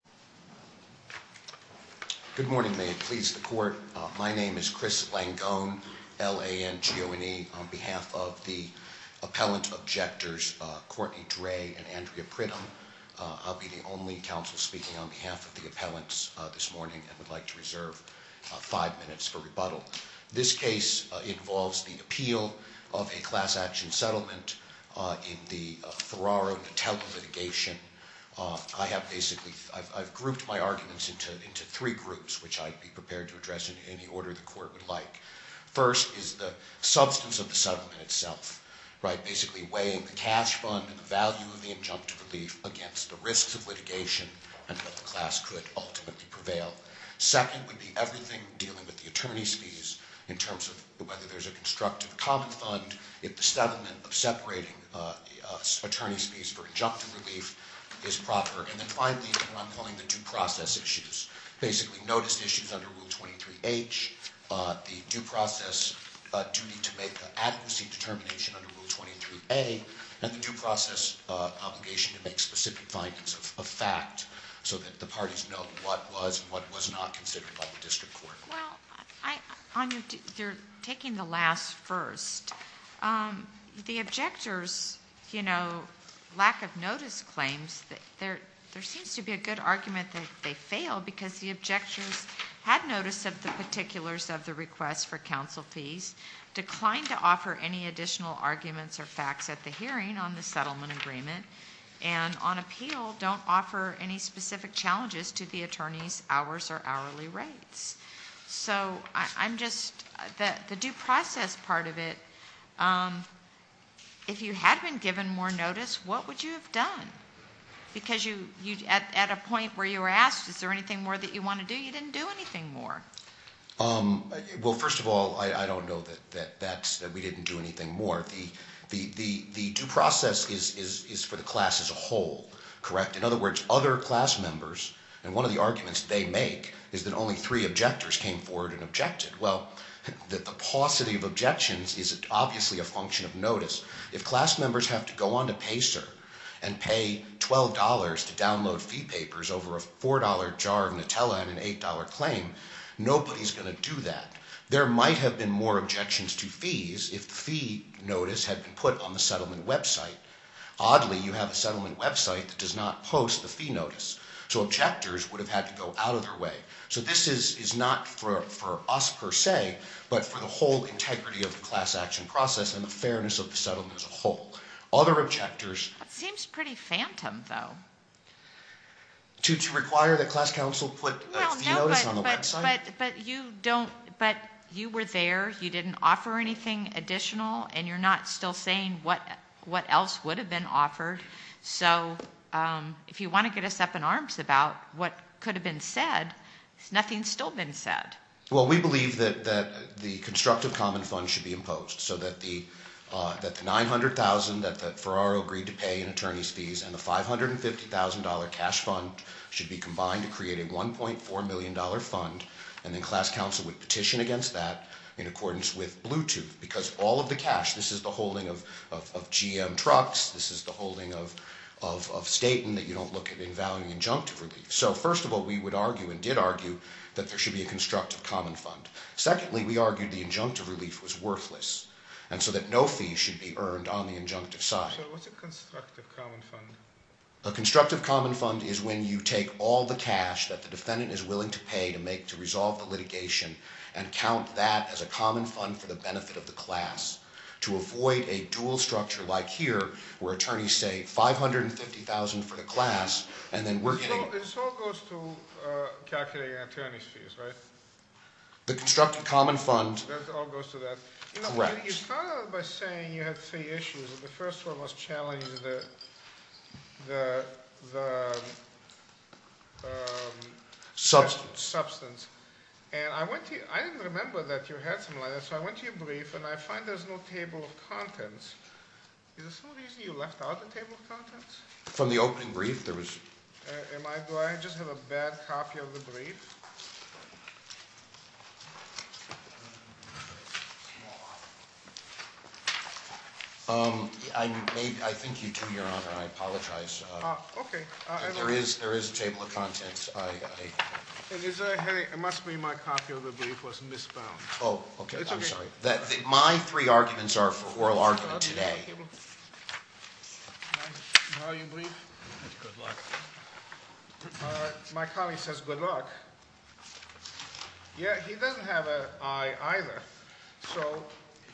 and Andrea Pridham. I'll be the only counsel speaking on behalf of the appellants this morning and would like to reserve five minutes for rebuttal. This case involves the appeal of a class action settlement in the Ferraro-Natello litigation. I've grouped my arguments into three groups, which I'd be prepared to address in any order the Court would like. First is the substance of the settlement itself, basically weighing the cash fund and the value of the injunctive relief against the risks of litigation and that the class could ultimately prevail. Second would be everything dealing with the attorney's fees in terms of whether there's a constructive common fund, if the settlement of separating attorney's fees for injunctive relief is proper. And then finally, what I'm calling the due process issues, basically notice issues under Rule 23H, the due process duty to make the adequacy determination under Rule 23A, and the due process obligation to make specific findings of fact so that the parties know what was and what was not considered by the district court. Well, Anya, you're taking the last first. The objectors, you know, lack of notice claims, there seems to be a good argument that they failed because the objectors had notice of the particulars of the request for counsel fees, declined to offer any additional arguments or facts at the hearing on the settlement agreement, and on appeal don't offer any specific rates. So I'm just, the due process part of it, if you had been given more notice, what would you have done? Because you, at a point where you were asked, is there anything more that you want to do, you didn't do anything more. Well, first of all, I don't know that that's, that we didn't do anything more. The due process is for the class as a whole, correct? In other words, other class members, and one of the only three objectors came forward and objected. Well, the paucity of objections is obviously a function of notice. If class members have to go on to PaySir and pay $12 to download fee papers over a $4 jar of Nutella and an $8 claim, nobody's going to do that. There might have been more objections to fees if the fee notice had been put on the settlement website. Oddly, you have a settlement website that does not post the fee notice. So objectors would have had to go out of their way. So this is not for us, per se, but for the whole integrity of the class action process and the fairness of the settlement as a whole. Other objectors... That seems pretty phantom, though. To require that class counsel put a fee notice on the website? No, but you don't, but you were there, you didn't offer anything additional, and you're not still saying what else would have been offered. So if you want to get us up in arms about what could have been said, nothing's still been said. Well, we believe that the constructive common fund should be imposed, so that the $900,000 that Ferraro agreed to pay in attorney's fees and the $550,000 cash fund should be combined to create a $1.4 million fund, and then class counsel would petition against that in accordance with Bluetooth, because all of the cash, this is the holding of GM trucks, this is the holding of Staten that you don't look at in value injunctive relief. So first of all, we would argue and did argue that there should be a constructive common fund. Secondly, we argued the injunctive relief was worthless, and so that no fee should be earned on the injunctive side. So what's a constructive common fund? A constructive common fund is when you take all the cash that the defendant is willing to pay to resolve the litigation and count that as a common fund for the benefit of the $550,000 for the class, and then we're getting... So this all goes to calculating attorney's fees, right? The constructive common fund... That all goes to that? Correct. You know, you started by saying you had three issues. The first one was challenging the... Substance. Substance. And I went to you, I didn't remember that you had something like that, so I went to your brief and I find there's no table of contents. Is there some reason you left out the table of contents? From the opening brief? Do I just have a bad copy of the brief? I think you do, Your Honor, and I apologize. Okay. There is a table of contents. It must be my copy of the brief was misbound. Oh, okay. I'm sorry. My three arguments are for oral argument today. Now your brief. Good luck. My colleague says good luck. Yeah, he doesn't have an I either, so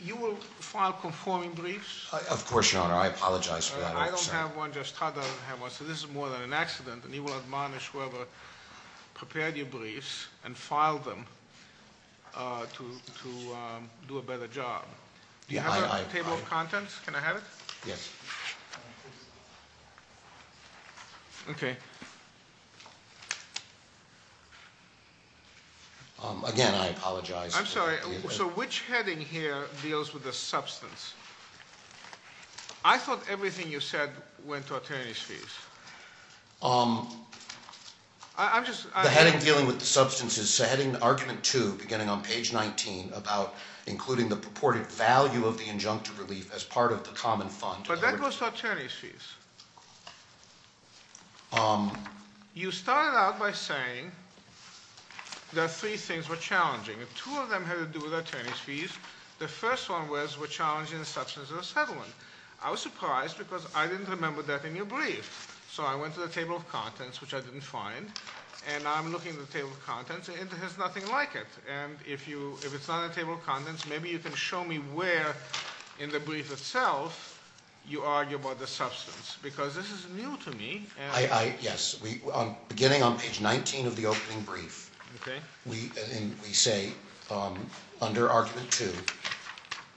you will file conforming briefs? Of course, Your Honor, I apologize for that. I don't have one, Judge Strada doesn't have one, so this is more than an accident, and Do you have a table of contents? Can I have it? Yes. Okay. Again, I apologize. I'm sorry, so which heading here deals with the substance? I thought everything you said went to attorney's fees. I'm just... The heading dealing with the substance is heading argument two, beginning on page 19, about including the purported value of the injunctive relief as part of the common fund. But that goes to attorney's fees. You started out by saying that three things were challenging. Two of them had to do with attorney's fees. The first one was were challenging the substance of the settlement. I was surprised because I didn't remember that in your brief. So I went to the table of contents, which I didn't find, and I'm looking at the table of contents, and it has nothing like it. And if it's not in the table of contents, maybe you can show me where in the brief itself you argue about the substance. Because this is new to me. Yes. Beginning on page 19 of the opening brief, we say under argument two,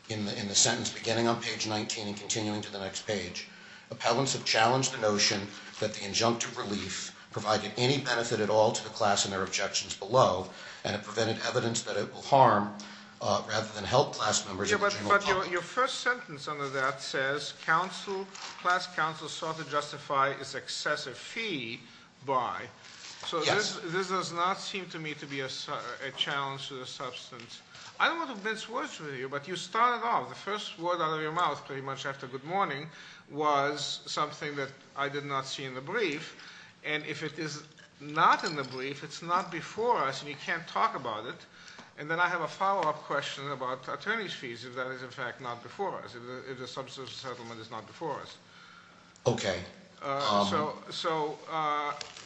in the sentence beginning on page 19 and continuing to the next page, appellants have challenged the notion that the injunctive relief provided any benefit at all to the class and their objections below, and it prevented evidence that it will harm rather than help class members in the general public. But your first sentence under that says class counsel sought to justify its excessive fee by. Yes. So this does not seem to me to be a challenge to the substance. I don't know if this works for you, but you started off, the first word out of your mouth pretty much after good morning was something that I did not see in the brief. And if it is not in the brief, it's not before us, and you can't talk about it. And then I have a follow-up question about attorney's fees, if that is in fact not before us, if the substance settlement is not before us. Okay. So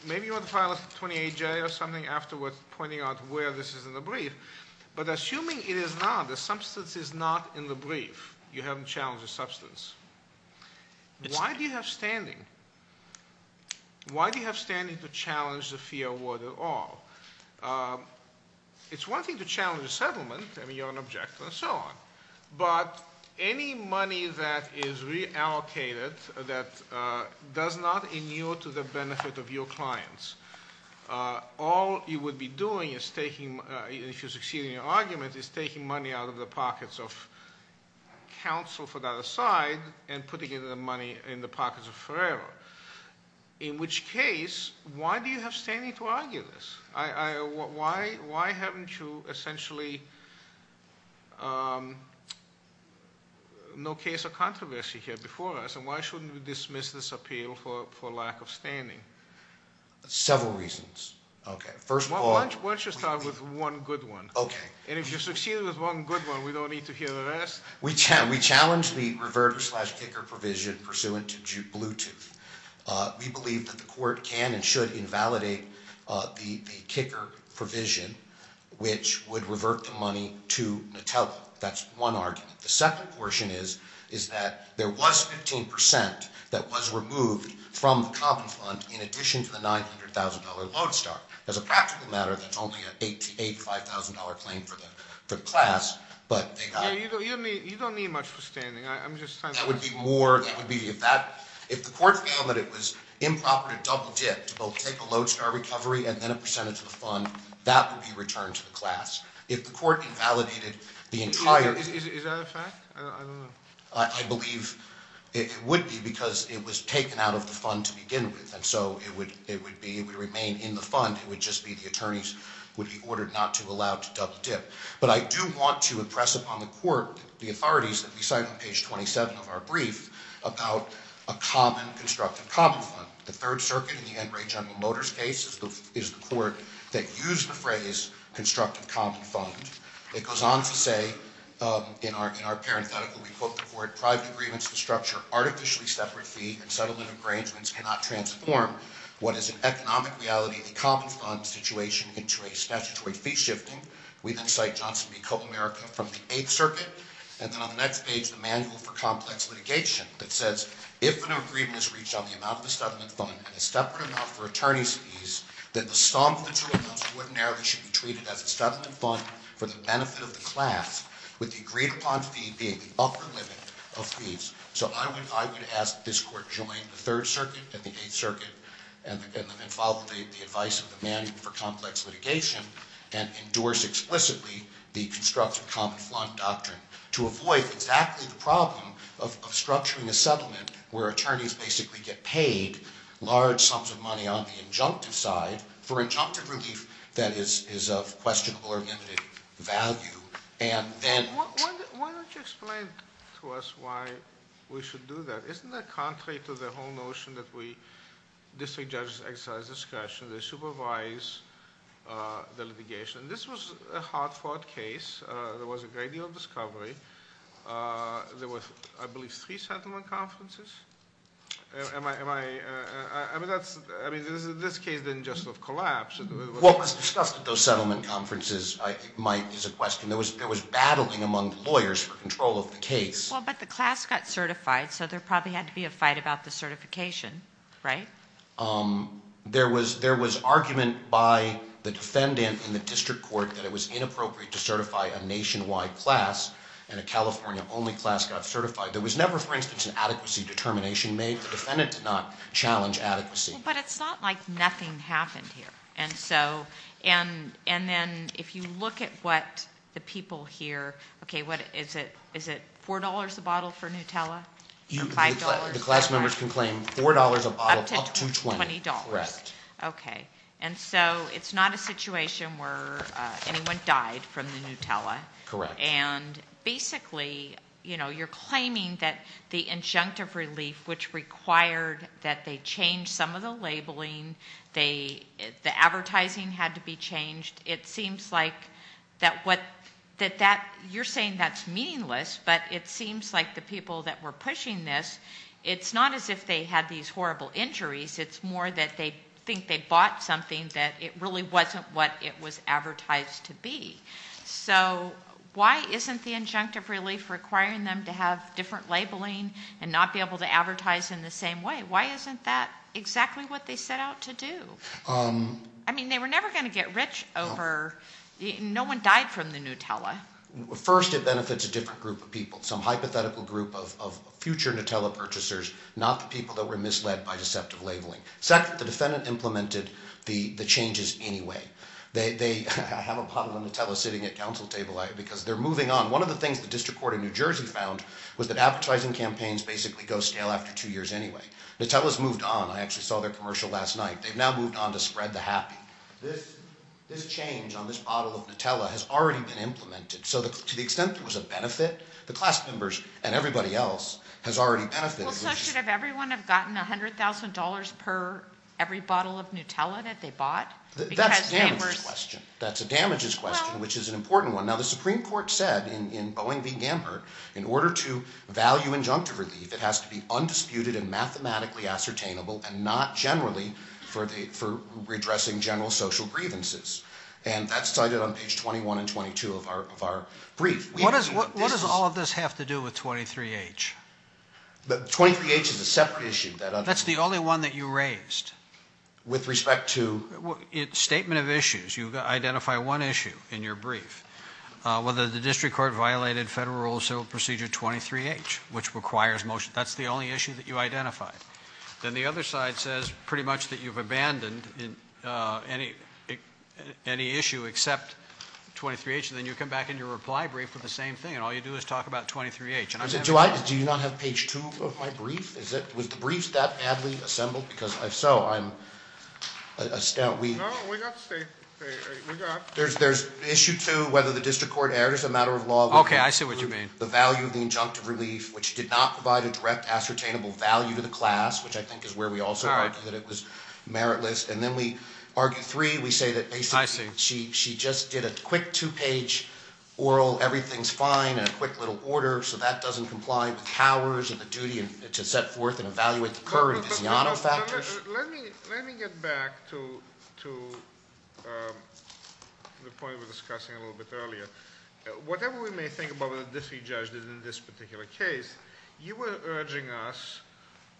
maybe you want to file a 28-J or something afterwards pointing out where this is in the brief. But assuming it is not, the substance is not in the brief, you haven't challenged the substance, why do you have standing? Why do you have standing to challenge the fee award at all? It's one thing to challenge the settlement, I mean you're an objector and so on, but any money that is reallocated that does not inure to the benefit of your clients, all you would be doing is taking, if you succeed in your argument, is taking money out of the pockets of counsel for that aside and putting the money in the pockets of forever. In which case, why do you have standing to argue this? Why haven't you essentially, no case of controversy here before us, and why shouldn't we dismiss this appeal for lack of standing? Several reasons. Okay, first of all. Why don't you start with one good one. Okay. And if you succeed with one good one, we don't need to hear the rest. We challenge the reverter slash kicker provision pursuant to Bluetooth. We believe that the court can and should invalidate the kicker provision, which would revert the money to Nutella. That's one argument. The second portion is that there was 15% that was removed from the common fund in addition to the $900,000 Lodestar. As a practical matter, that's only a $8,000 to $5,000 claim for the class, but they got it. You don't need much for standing. That would be more, that would be, if the court found that it was improper to double dip, to both take a Lodestar recovery and then a percentage of the fund, that would be returned to the class. If the court invalidated the entire. Is that a fact? I don't know. I believe it would be because it was taken out of the fund to begin with, and so it would be, it would remain in the fund. It would just be the attorneys would be ordered not to allow to double dip. But I do want to impress upon the court the authorities that we cite on page 27 of our brief about a common constructive common fund. The third circuit in the Enright General Motors case is the court that used the phrase constructive common fund. It goes on to say, in our parenthetical, we quote the court, private agreements to structure artificially separate fee and settlement arrangements cannot transform what is an economic reality in the common fund situation into a statutory fee shifting. We then cite Johnson v. Co-America from the Eighth Circuit. And then on the next page, the Manual for Complex Litigation that says, if an agreement is reached on the amount of the settlement fund and a separate amount for attorney's fees, that the sum of the two amounts ordinarily should be treated as a settlement fund for the benefit of the class, with the agreed upon fee being the upper limit of fees. So I would ask that this court join the Third Circuit and the Eighth Circuit and follow the advice of the Manual for Complex Litigation and endorse explicitly the constructive common fund doctrine to avoid exactly the problem of structuring a settlement where attorneys basically get paid large sums of money on the injunctive side for injunctive relief that is of questionable or limited value. Why don't you explain to us why we should do that? Isn't that contrary to the whole notion that district judges exercise discretion, they supervise the litigation? This was a hard-fought case. There was a great deal of discovery. There were, I believe, three settlement conferences? I mean, this case didn't just collapse. What was discussed at those settlement conferences, I think, is a question. There was battling among lawyers for control of the case. Well, but the class got certified, so there probably had to be a fight about the certification, right? There was argument by the defendant in the district court that it was inappropriate to certify a nationwide class, and a California-only class got certified. There was never, for instance, an adequacy determination made. The defendant did not challenge adequacy. But it's not like nothing happened here. And then if you look at what the people here, okay, is it $4 a bottle for Nutella or $5? The class members can claim $4 a bottle up to $20. Up to $20. Correct. Okay. And so it's not a situation where anyone died from the Nutella. Correct. And basically, you know, you're claiming that the injunctive relief, which required that they change some of the labeling, the advertising had to be changed, it seems like that you're saying that's meaningless, but it seems like the people that were pushing this, it's not as if they had these horrible injuries. It's more that they think they bought something that it really wasn't what it was advertised to be. So why isn't the injunctive relief requiring them to have different labeling and not be able to advertise in the same way? Why isn't that exactly what they set out to do? I mean, they were never going to get rich over no one died from the Nutella. First, it benefits a different group of people, some hypothetical group of future Nutella purchasers, not the people that were misled by deceptive labeling. Second, the defendant implemented the changes anyway. They have a bottle of Nutella sitting at council table because they're moving on. One of the things the district court in New Jersey found was that advertising campaigns basically go stale after two years anyway. Nutella's moved on. I actually saw their commercial last night. They've now moved on to spread the happy. This change on this bottle of Nutella has already been implemented. So to the extent there was a benefit, the class members and everybody else has already benefited. Well, so should everyone have gotten $100,000 per every bottle of Nutella that they bought? That's a damages question. That's a damages question, which is an important one. Now, the Supreme Court said in Boeing v. Gambert, in order to value injunctive relief, it has to be undisputed and mathematically ascertainable and not generally for redressing general social grievances. And that's cited on page 21 and 22 of our brief. What does all of this have to do with 23H? 23H is a separate issue. That's the only one that you raised. With respect to? Statement of issues. You identify one issue in your brief, whether the district court violated federal civil procedure 23H, which requires motion. That's the only issue that you identified. Then the other side says pretty much that you've abandoned any issue except 23H, and then you come back in your reply brief with the same thing, and all you do is talk about 23H. Do you not have page 2 of my brief? Was the brief that badly assembled? Because if so, I'm astounded. No, we got the statement. There's issue 2, whether the district court erred is a matter of law. Okay, I see what you mean. The value of the injunctive relief, which did not provide a direct ascertainable value to the class, which I think is where we also argue that it was meritless. And then we argue 3, we say that basically she just did a quick two-page oral, everything's fine, and a quick little order, so that doesn't comply with cowers and the duty to set forth and evaluate the current Viziano factors. Let me get back to the point we were discussing a little bit earlier. Whatever we may think about what the Diffie judge did in this particular case, you were urging us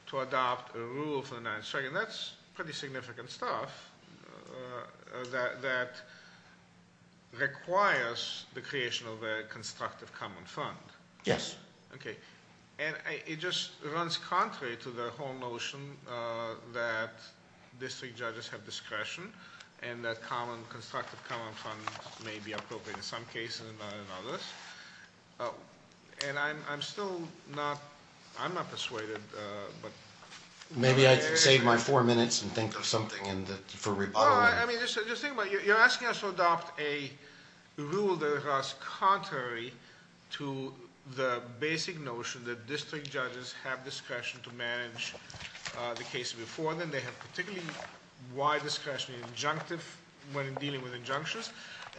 to adopt a rule for the 9th Circuit, and that's pretty significant stuff that requires the creation of a constructive common fund. Yes. Okay, and it just runs contrary to the whole notion that district judges have discretion, and that a constructive common fund may be appropriate in some cases and not in others. And I'm still not, I'm not persuaded. Maybe I can save my four minutes and think of something for rebuttal. I mean, just think about it. You're asking us to adopt a rule that is contrary to the basic notion that district judges have discretion to manage the case before them. They have particularly wide discretionary injunctive when dealing with injunctions,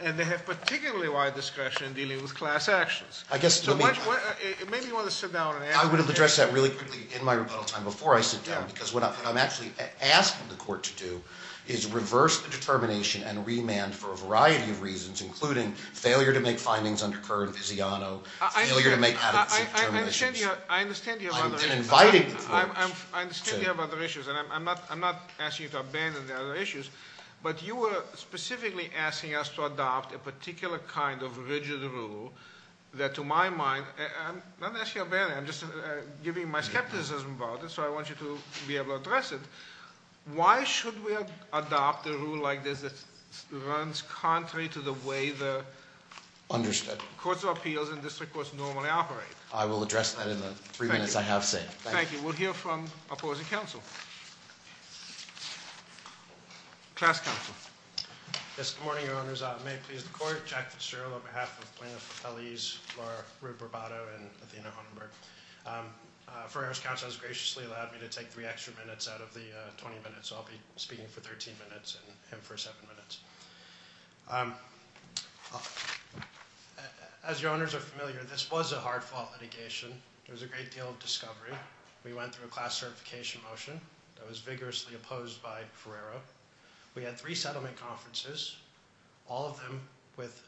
and they have particularly wide discretion in dealing with class actions. Maybe you want to sit down and answer that. I would have addressed that really quickly in my rebuttal time before I sit down, because what I'm actually asking the court to do is reverse the determination and remand for a variety of reasons, including failure to make findings under current viziano, failure to make adequate determinations. I understand you have other issues. I've been invited before. I understand you have other issues, and I'm not asking you to abandon the other issues, but you were specifically asking us to adopt a particular kind of rigid rule that to my mind, I'm not asking you to abandon it. I'm just giving my skepticism about it, so I want you to be able to address it. Why should we adopt a rule like this that runs contrary to the way the- Understood. Courts of appeals and district courts normally operate? I will address that in the three minutes I have saved. Thank you. Thank you. Class counsel. Yes, good morning, Your Honors. May it please the court. Jack Fitzgerald on behalf of plaintiffs' appellees, Laura Rue Barbato and Athena Hunenberg. Ferreira's counsel has graciously allowed me to take three extra minutes out of the 20 minutes, so I'll be speaking for 13 minutes and him for seven minutes. As Your Honors are familiar, this was a hard-fought litigation. There was a great deal of discovery. We went through a class certification motion that was vigorously opposed by Ferreira. We had three settlement conferences, all of them with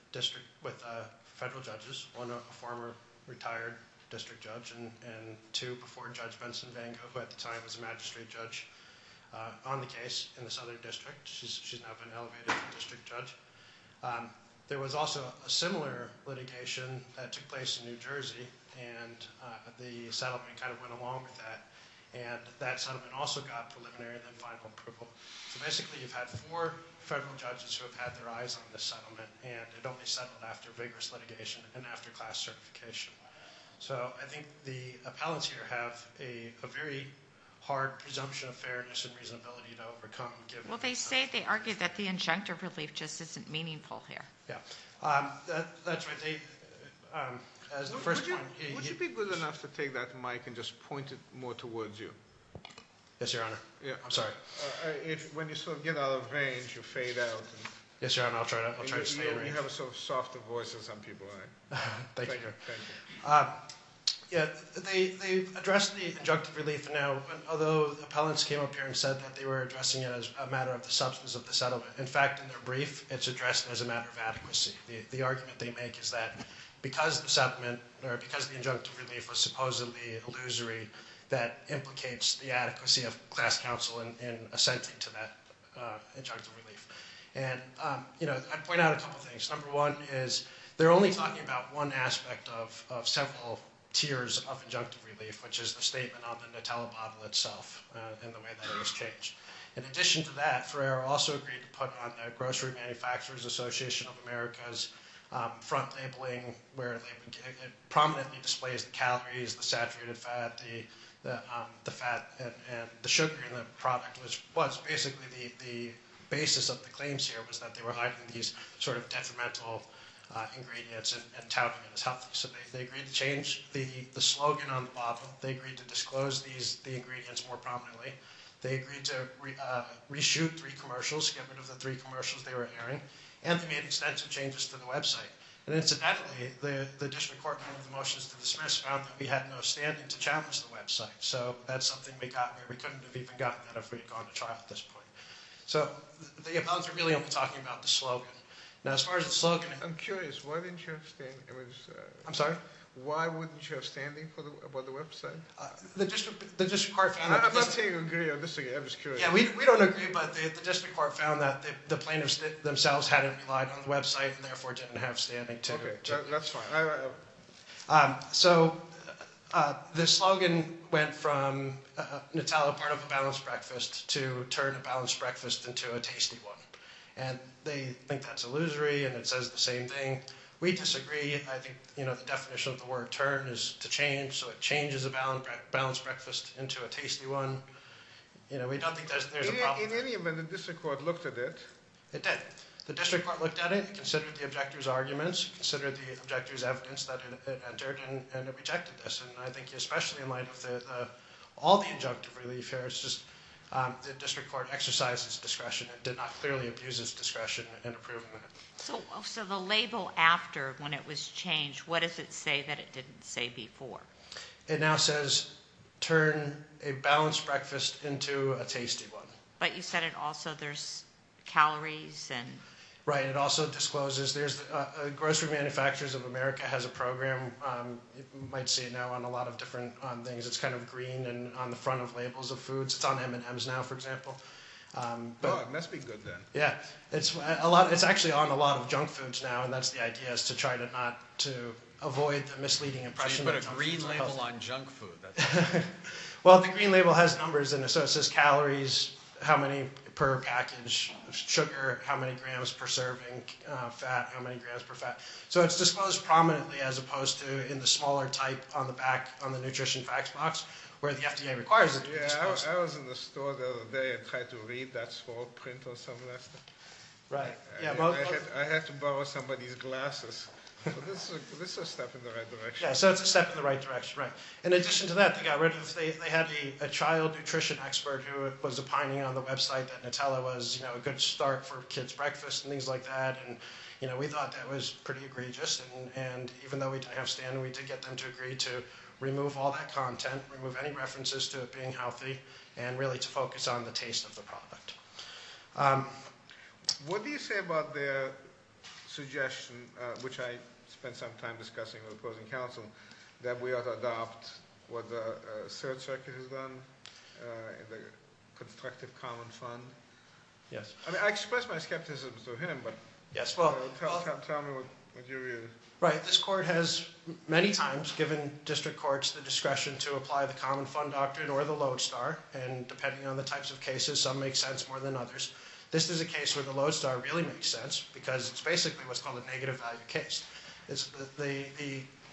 federal judges, one a former retired district judge and two before Judge Benson-Vango, who at the time was a magistrate judge, on the case in the Southern District. She's now been elevated to district judge. There was also a similar litigation that took place in New Jersey, and the settlement kind of went along with that, and that settlement also got preliminary and then final approval. So basically you've had four federal judges who have had their eyes on this settlement, and it only settled after vigorous litigation and after class certification. So I think the appellants here have a very hard presumption of fairness and reasonability to overcome. Well, they say they argue that the injunctive relief just isn't meaningful here. Yeah, that's right. Would you be good enough to take that mic and just point it more towards you? Yes, Your Honor. I'm sorry. When you sort of get out of range, you fade out. Yes, Your Honor, I'll try to stay in range. You have a sort of softer voice than some people. Thank you. Thank you. Yeah, they address the injunctive relief now, although the appellants came up here and said that they were addressing it as a matter of the substance of the settlement. In fact, in their brief, it's addressed as a matter of adequacy. The argument they make is that because the injunctive relief was supposedly illusory, that implicates the adequacy of class counsel in assenting to that injunctive relief. And I'd point out a couple of things. Number one is they're only talking about one aspect of several tiers of injunctive relief, which is the statement on the Nutella bottle itself and the way that it was changed. In addition to that, Ferrer also agreed to put on the Grocery Manufacturers Association of America's front labeling where it prominently displays the calories, the saturated fat, the fat and the sugar in the product, which was basically the basis of the claims here, was that they were hiding these sort of detrimental ingredients and touting it as healthy. So they agreed to change the slogan on the bottle. They agreed to disclose the ingredients more prominently. They agreed to reshoot three commercials, get rid of the three commercials they were airing. And they made extensive changes to the website. And incidentally, the district court, in one of the motions to dismiss, found that we had no standing to challenge the website. So that's something we got where we couldn't have even gotten that if we had gone to trial at this point. So they're really only talking about the slogan. Now, as far as the slogan... I'm curious. Why didn't you have standing? I'm sorry? Why wouldn't you have standing for the website? The district court found that... I'm not saying you agree or disagree. I'm just curious. Yeah, we don't agree, but the district court found that the plaintiffs themselves hadn't relied on the website and therefore didn't have standing to... Okay, that's fine. So the slogan went from Nutella part of a balanced breakfast to turn a balanced breakfast into a tasty one. And they think that's illusory and it says the same thing. We disagree. I think, you know, the definition of the word turn is to change. So it changes a balanced breakfast into a tasty one. You know, we don't think there's a problem. In any event, the district court looked at it. It did. The district court looked at it and considered the objector's arguments, considered the objector's evidence that it entered, and it rejected this. And I think especially in light of all the injunctive relief here, it's just the district court exercised its discretion. It did not clearly abuse its discretion in approving it. So the label after when it was changed, what does it say that it didn't say before? It now says turn a balanced breakfast into a tasty one. But you said it also there's calories and... Right, it also discloses there's grocery manufacturers of America has a program. You might see it now on a lot of different things. It's kind of green and on the front of labels of foods. It's on M&M's now, for example. Oh, it must be good then. Yeah. It's actually on a lot of junk foods now, and that's the idea is to try not to avoid a misleading impression. So you put a green label on junk food. Well, the green label has numbers in it. So it says calories, how many per package, sugar, how many grams per serving, fat, how many grams per fat. So it's disclosed prominently as opposed to in the smaller type on the back, on the nutrition facts box where the FDA requires it to be disclosed. I was in the store the other day and tried to read that small print or something like that. Right. I had to borrow somebody's glasses. This is a step in the right direction. Yeah, so it's a step in the right direction, right. In addition to that, they had a child nutrition expert who was opining on the website that Nutella was a good start for kids' breakfast and things like that, and we thought that was pretty egregious. And even though we didn't have Stan, we did get them to agree to remove all that content, remove any references to it being healthy, and really to focus on the taste of the product. What do you say about their suggestion, which I spent some time discussing with opposing counsel, that we ought to adopt what the Third Circuit has done in the Constructive Common Fund? Yes. I mean, I expressed my skepticism to him, but tell me what you read. Right. This court has many times given district courts the discretion to apply the Common Fund Doctrine or the Lodestar, and depending on the types of cases, some make sense more than others. This is a case where the Lodestar really makes sense because it's basically what's called a negative value case.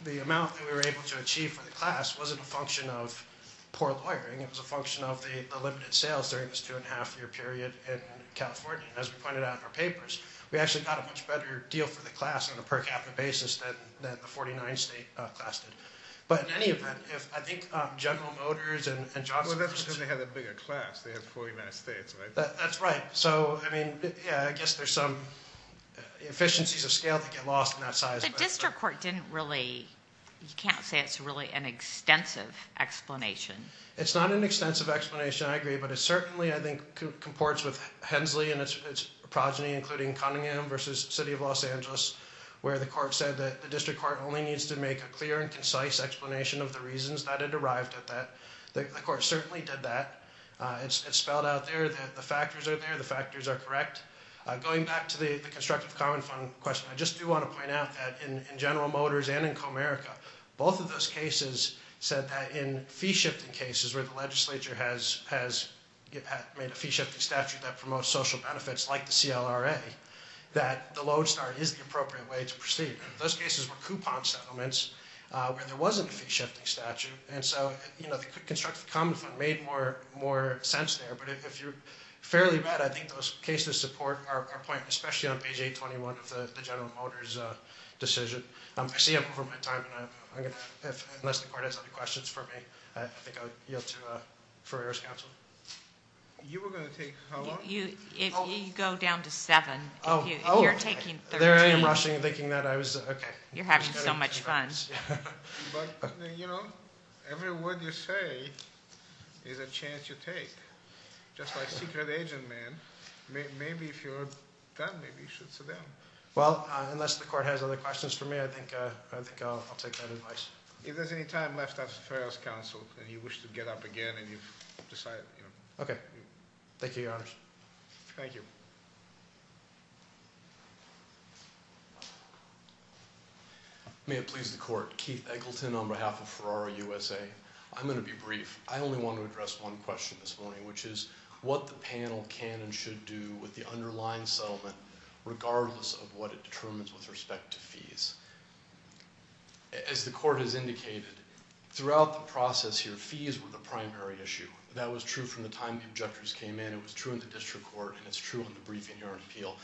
The amount that we were able to achieve for the class wasn't a function of poor lawyering. It was a function of the limited sales during this two-and-a-half-year period in California. As we pointed out in our papers, we actually got a much better deal for the class on a per capita basis than the 49-state class did. But in any event, I think General Motors and Johnson & Johnson Well, that's because they have a bigger class. They have 49 states, right? That's right. So, I mean, yeah, I guess there's some efficiencies of scale that get lost in that size. But the district court didn't really – you can't say it's really an extensive explanation. It's not an extensive explanation, I agree. But it certainly, I think, comports with Hensley and its progeny, including Cunningham v. City of Los Angeles, where the court said that the district court only needs to make a clear and concise explanation of the reasons that it arrived at that. The court certainly did that. It's spelled out there that the factors are there. The factors are correct. Going back to the constructive common fund question, I just do want to point out that in General Motors and in Comerica, both of those cases said that in fee-shifting cases where the legislature has made a fee-shifting statute that promotes social benefits like the CLRA, that the Lodestar is the appropriate way to proceed. Those cases were coupon settlements where there wasn't a fee-shifting statute. And so the constructive common fund made more sense there. But if you're fairly right, I think those cases support our point, especially on page 821 of the General Motors decision. I see I'm over my time. Unless the court has other questions for me, I think I'll yield to Ferrer's counsel. You were going to take how long? You go down to seven. Oh. You're taking 13. There I am, rushing and thinking that I was, okay. You're having so much fun. But, you know, every word you say is a chance you take. Just like secret agent man, maybe if you're done, maybe you should sit down. Well, unless the court has other questions for me, I think I'll take that advice. If there's any time left after Ferrer's counsel and you wish to get up again and you've decided, you know. Thank you, Your Honors. Thank you. May it please the court. Keith Eggleton on behalf of Ferraro USA. I'm going to be brief. I only want to address one question this morning, which is what the panel can and should do with the underlying settlement, regardless of what it determines with respect to fees. As the court has indicated, throughout the process here, fees were the primary issue. That was true from the time the objectors came in. It was true in the district court, and it's true in the briefing here on appeal.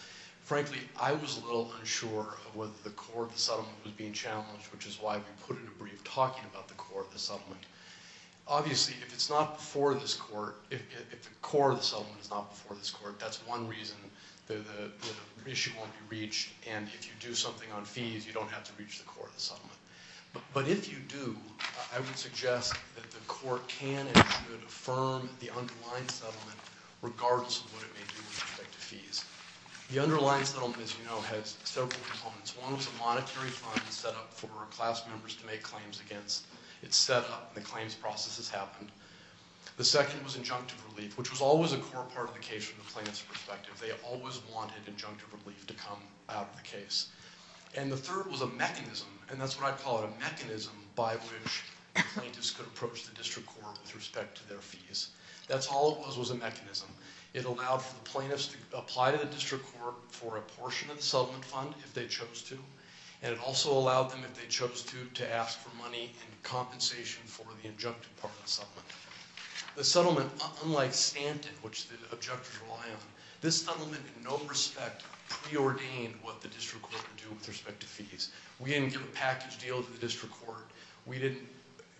Frankly, I was a little unsure of whether the core of the settlement was being challenged, which is why we put in a brief talking about the core of the settlement. Obviously, if it's not before this court, if the core of the settlement is not before this court, that's one reason the issue won't be reached. And if you do something on fees, you don't have to reach the core of the settlement. But if you do, I would suggest that the court can and should affirm the underlying settlement, regardless of what it may do with respect to fees. The underlying settlement, as you know, has several components. One was a monetary fund set up for class members to make claims against. It's set up, and the claims process has happened. The second was injunctive relief, which was always a core part of the case from the plaintiff's perspective. They always wanted injunctive relief to come out of the case. And the third was a mechanism, and that's what I call it, a mechanism by which plaintiffs could approach the district court with respect to their fees. That's all it was, was a mechanism. It allowed for the plaintiffs to apply to the district court for a portion of the settlement fund, if they chose to. And it also allowed them, if they chose to, to ask for money in compensation for the injunctive part of the settlement. The settlement, unlike Stanton, which the objectors rely on, this settlement in no respect preordained what the district court would do with respect to fees. We didn't give a package deal to the district court. We didn't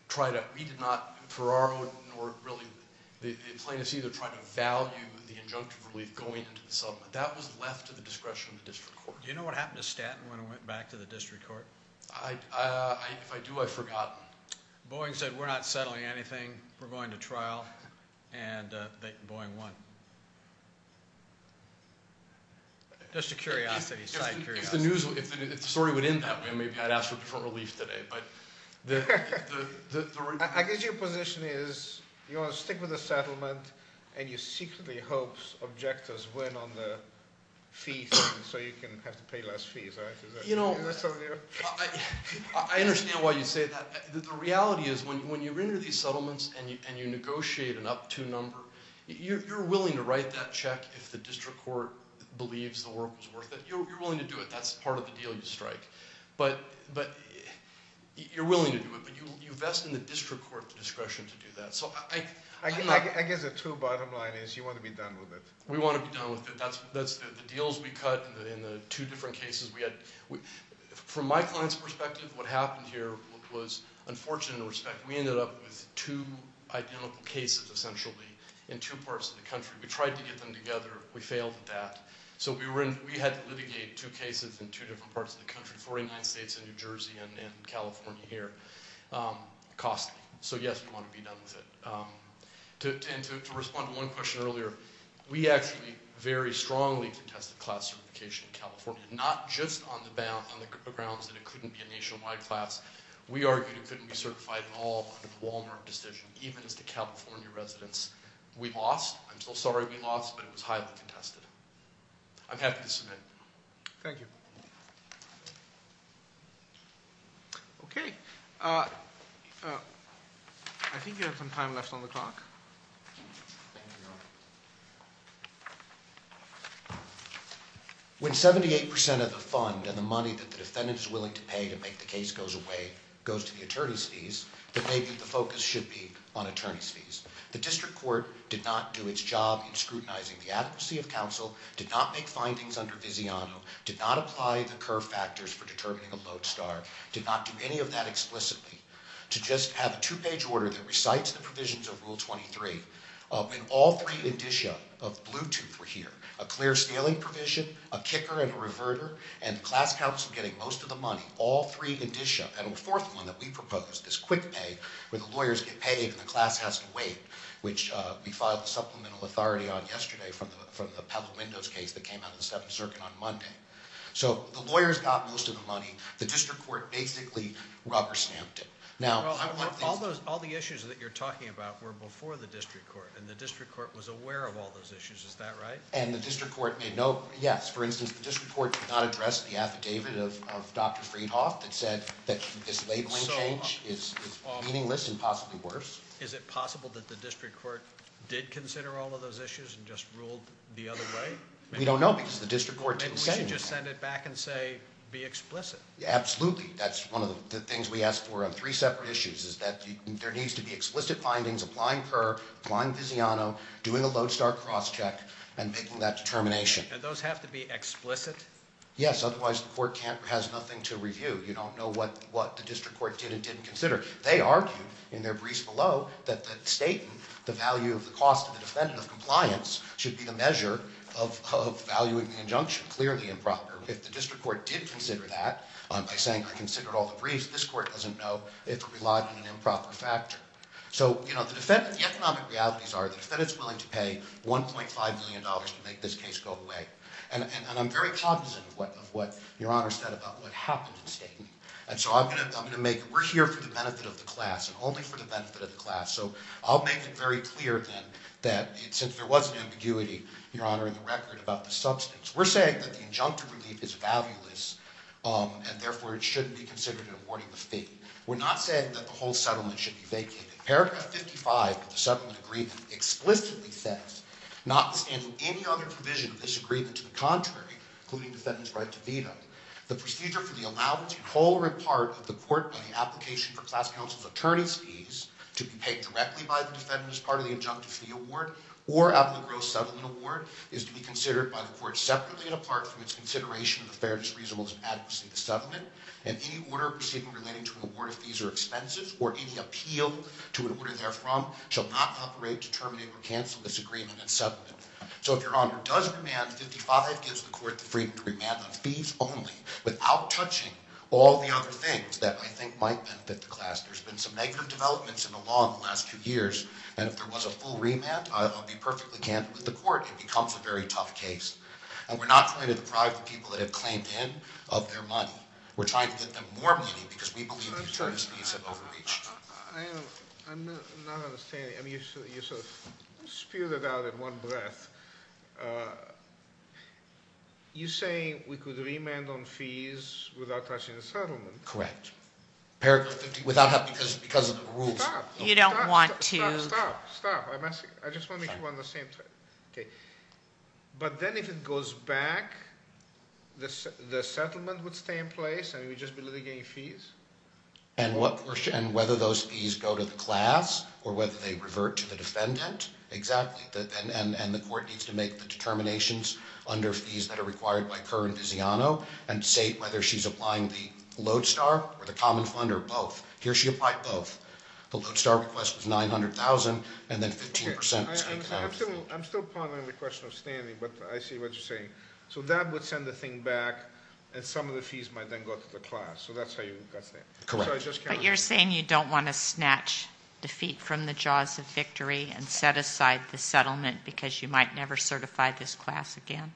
try to – we did not, for our own – the plaintiffs either tried to value the injunctive relief going into the settlement. That was left to the discretion of the district court. Do you know what happened to Stanton when it went back to the district court? If I do, I've forgotten. Boeing said, we're not settling anything. We're going to trial, and Boeing won. Just a curiosity, side curiosity. If the story went in that way, maybe I'd ask for different relief today. I guess your position is you want to stick with the settlement, and you secretly hope objectors win on the fee thing, so you can have to pay less fees. You know, I understand why you say that. The reality is when you enter these settlements and you negotiate an up-to number, you're willing to write that check if the district court believes the work was worth it. You're willing to do it. That's part of the deal you strike. You're willing to do it, but you vest in the district court the discretion to do that. I guess the true bottom line is you want to be done with it. We want to be done with it. That's the deals we cut in the two different cases. From my client's perspective, what happened here was unfortunate in respect. We ended up with two identical cases, essentially, in two parts of the country. We tried to get them together. We failed at that. So we had to litigate two cases in two different parts of the country, 49 states and New Jersey and California here, costly. So, yes, we want to be done with it. And to respond to one question earlier, we actually very strongly contested class certification in California, not just on the grounds that it couldn't be a nationwide class. We argued it couldn't be certified at all under the Walmart decision, even as the California residents. We lost. I'm still sorry we lost, but it was highly contested. I'm happy to submit. Thank you. Okay. I think we have some time left on the clock. When 78% of the fund and the money that the defendant is willing to pay to make the case goes away, goes to the attorney's fees, then maybe the focus should be on attorney's fees. The district court did not do its job in scrutinizing the adequacy of counsel, did not make findings under Viziano, did not apply the curve factors for determining a lodestar, did not do any of that explicitly. To just have a two-page order that recites the provisions of Rule 23, when all three indicia of Bluetooth were here, a clear-scaling provision, a kicker and a reverter, and the class counsel getting most of the money, and a fourth one that we proposed, this quick pay, where the lawyers get paid and the class has to wait, which we filed a supplemental authority on yesterday from the Pebble Windows case that came out of the Seventh Circuit on Monday. So the lawyers got most of the money. The district court basically rubber-stamped it. All the issues that you're talking about were before the district court, and the district court was aware of all those issues. Is that right? And the district court made no, yes. For instance, the district court did not address the affidavit of Dr. Friedhoff that said that this labeling change is meaningless and possibly worse. Is it possible that the district court did consider all of those issues and just ruled the other way? We don't know because the district court didn't say anything. Maybe we should just send it back and say, be explicit. Absolutely. That's one of the things we asked for on three separate issues is that there needs to be explicit findings, applying PURR, applying Viziano, doing a lodestar cross-check, and making that determination. And those have to be explicit? Yes, otherwise the court has nothing to review. You don't know what the district court did and didn't consider. They argued in their briefs below that the statement, the value of the cost to the defendant of compliance, should be the measure of valuing the injunction, clearly improper. If the district court did consider that by saying, I considered all the briefs, this court doesn't know if it relied on an improper factor. So the economic realities are the defendant is willing to pay $1.5 million to make this case go away. And I'm very cognizant of what Your Honor said about what happened in Staten. And so I'm going to make it, we're here for the benefit of the class and only for the benefit of the class. So I'll make it very clear then that since there was an ambiguity, Your Honor, in the record about the substance, we're saying that the injunctive relief is valueless and therefore it shouldn't be considered in awarding the fee. We're not saying that the whole settlement should be vacated. Paragraph 55 of the settlement agreement explicitly says, notwithstanding any other provision of this agreement to the contrary, including defendant's right to veto, the procedure for the allowance in whole or in part of the court by the application for class counsel's attorney's fees to be paid directly by the defendant as part of the injunctive fee award or out of the gross settlement award is to be considered by the court separately and apart from its consideration of the fairness, reasonableness, and adequacy of the settlement. And any order proceeding relating to an award of fees or expenses or any appeal to an order therefrom shall not operate to terminate or cancel this agreement and settlement. So if Your Honor does remand, 55 gives the court the freedom to remand on fees only without touching all the other things that I think might benefit the class. There's been some negative developments in the law in the last two years. And if there was a full remand, I'll be perfectly candid with the court, it becomes a very tough case. And we're not trying to deprive the people that have claimed in of their money. We're trying to get them more money because we believe the attorneys' fees have overreached. I'm not understanding. I mean, you sort of spewed it out in one breath. You're saying we could remand on fees without touching the settlement? Correct. Paragraph 50, because of the rules. Stop. You don't want to- Stop, stop, stop. I just want to make sure we're on the same page. Okay. But then if it goes back, the settlement would stay in place and we'd just be litigating fees? And whether those fees go to the class or whether they revert to the defendant? Exactly. And the court needs to make the determinations under fees that are required by Kerr and Viziano and say whether she's applying the Lodestar or the Common Fund or both. Here she applied both. The Lodestar request was $900,000 and then 15%- I'm still pondering the question of standing, but I see what you're saying. So that would send the thing back, and some of the fees might then go to the class. So that's how you- Correct. But you're saying you don't want to snatch defeat from the jaws of victory and set aside the settlement because you might never certify this class again?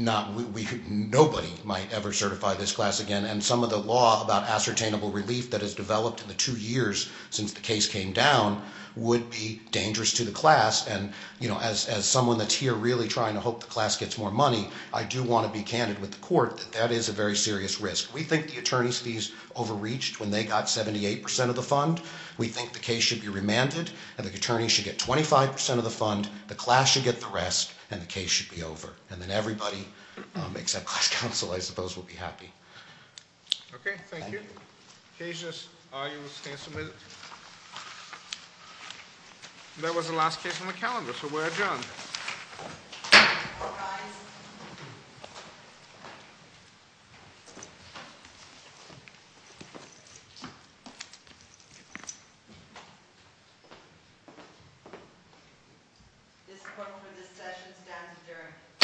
Nobody might ever certify this class again, and some of the law about ascertainable relief that has developed in the two years since the case came down would be dangerous to the class. And as someone that's here really trying to hope the class gets more money, I do want to be candid with the court that that is a very serious risk. We think the attorney's fees overreached when they got 78% of the fund. We think the case should be remanded and the attorney should get 25% of the fund, the class should get the rest, and the case should be over. And then everybody except class counsel, I suppose, would be happy. Okay, thank you. Cases are you stand submitted? That was the last case on the calendar, so we're adjourned. All rise. This court for this session stands adjourned.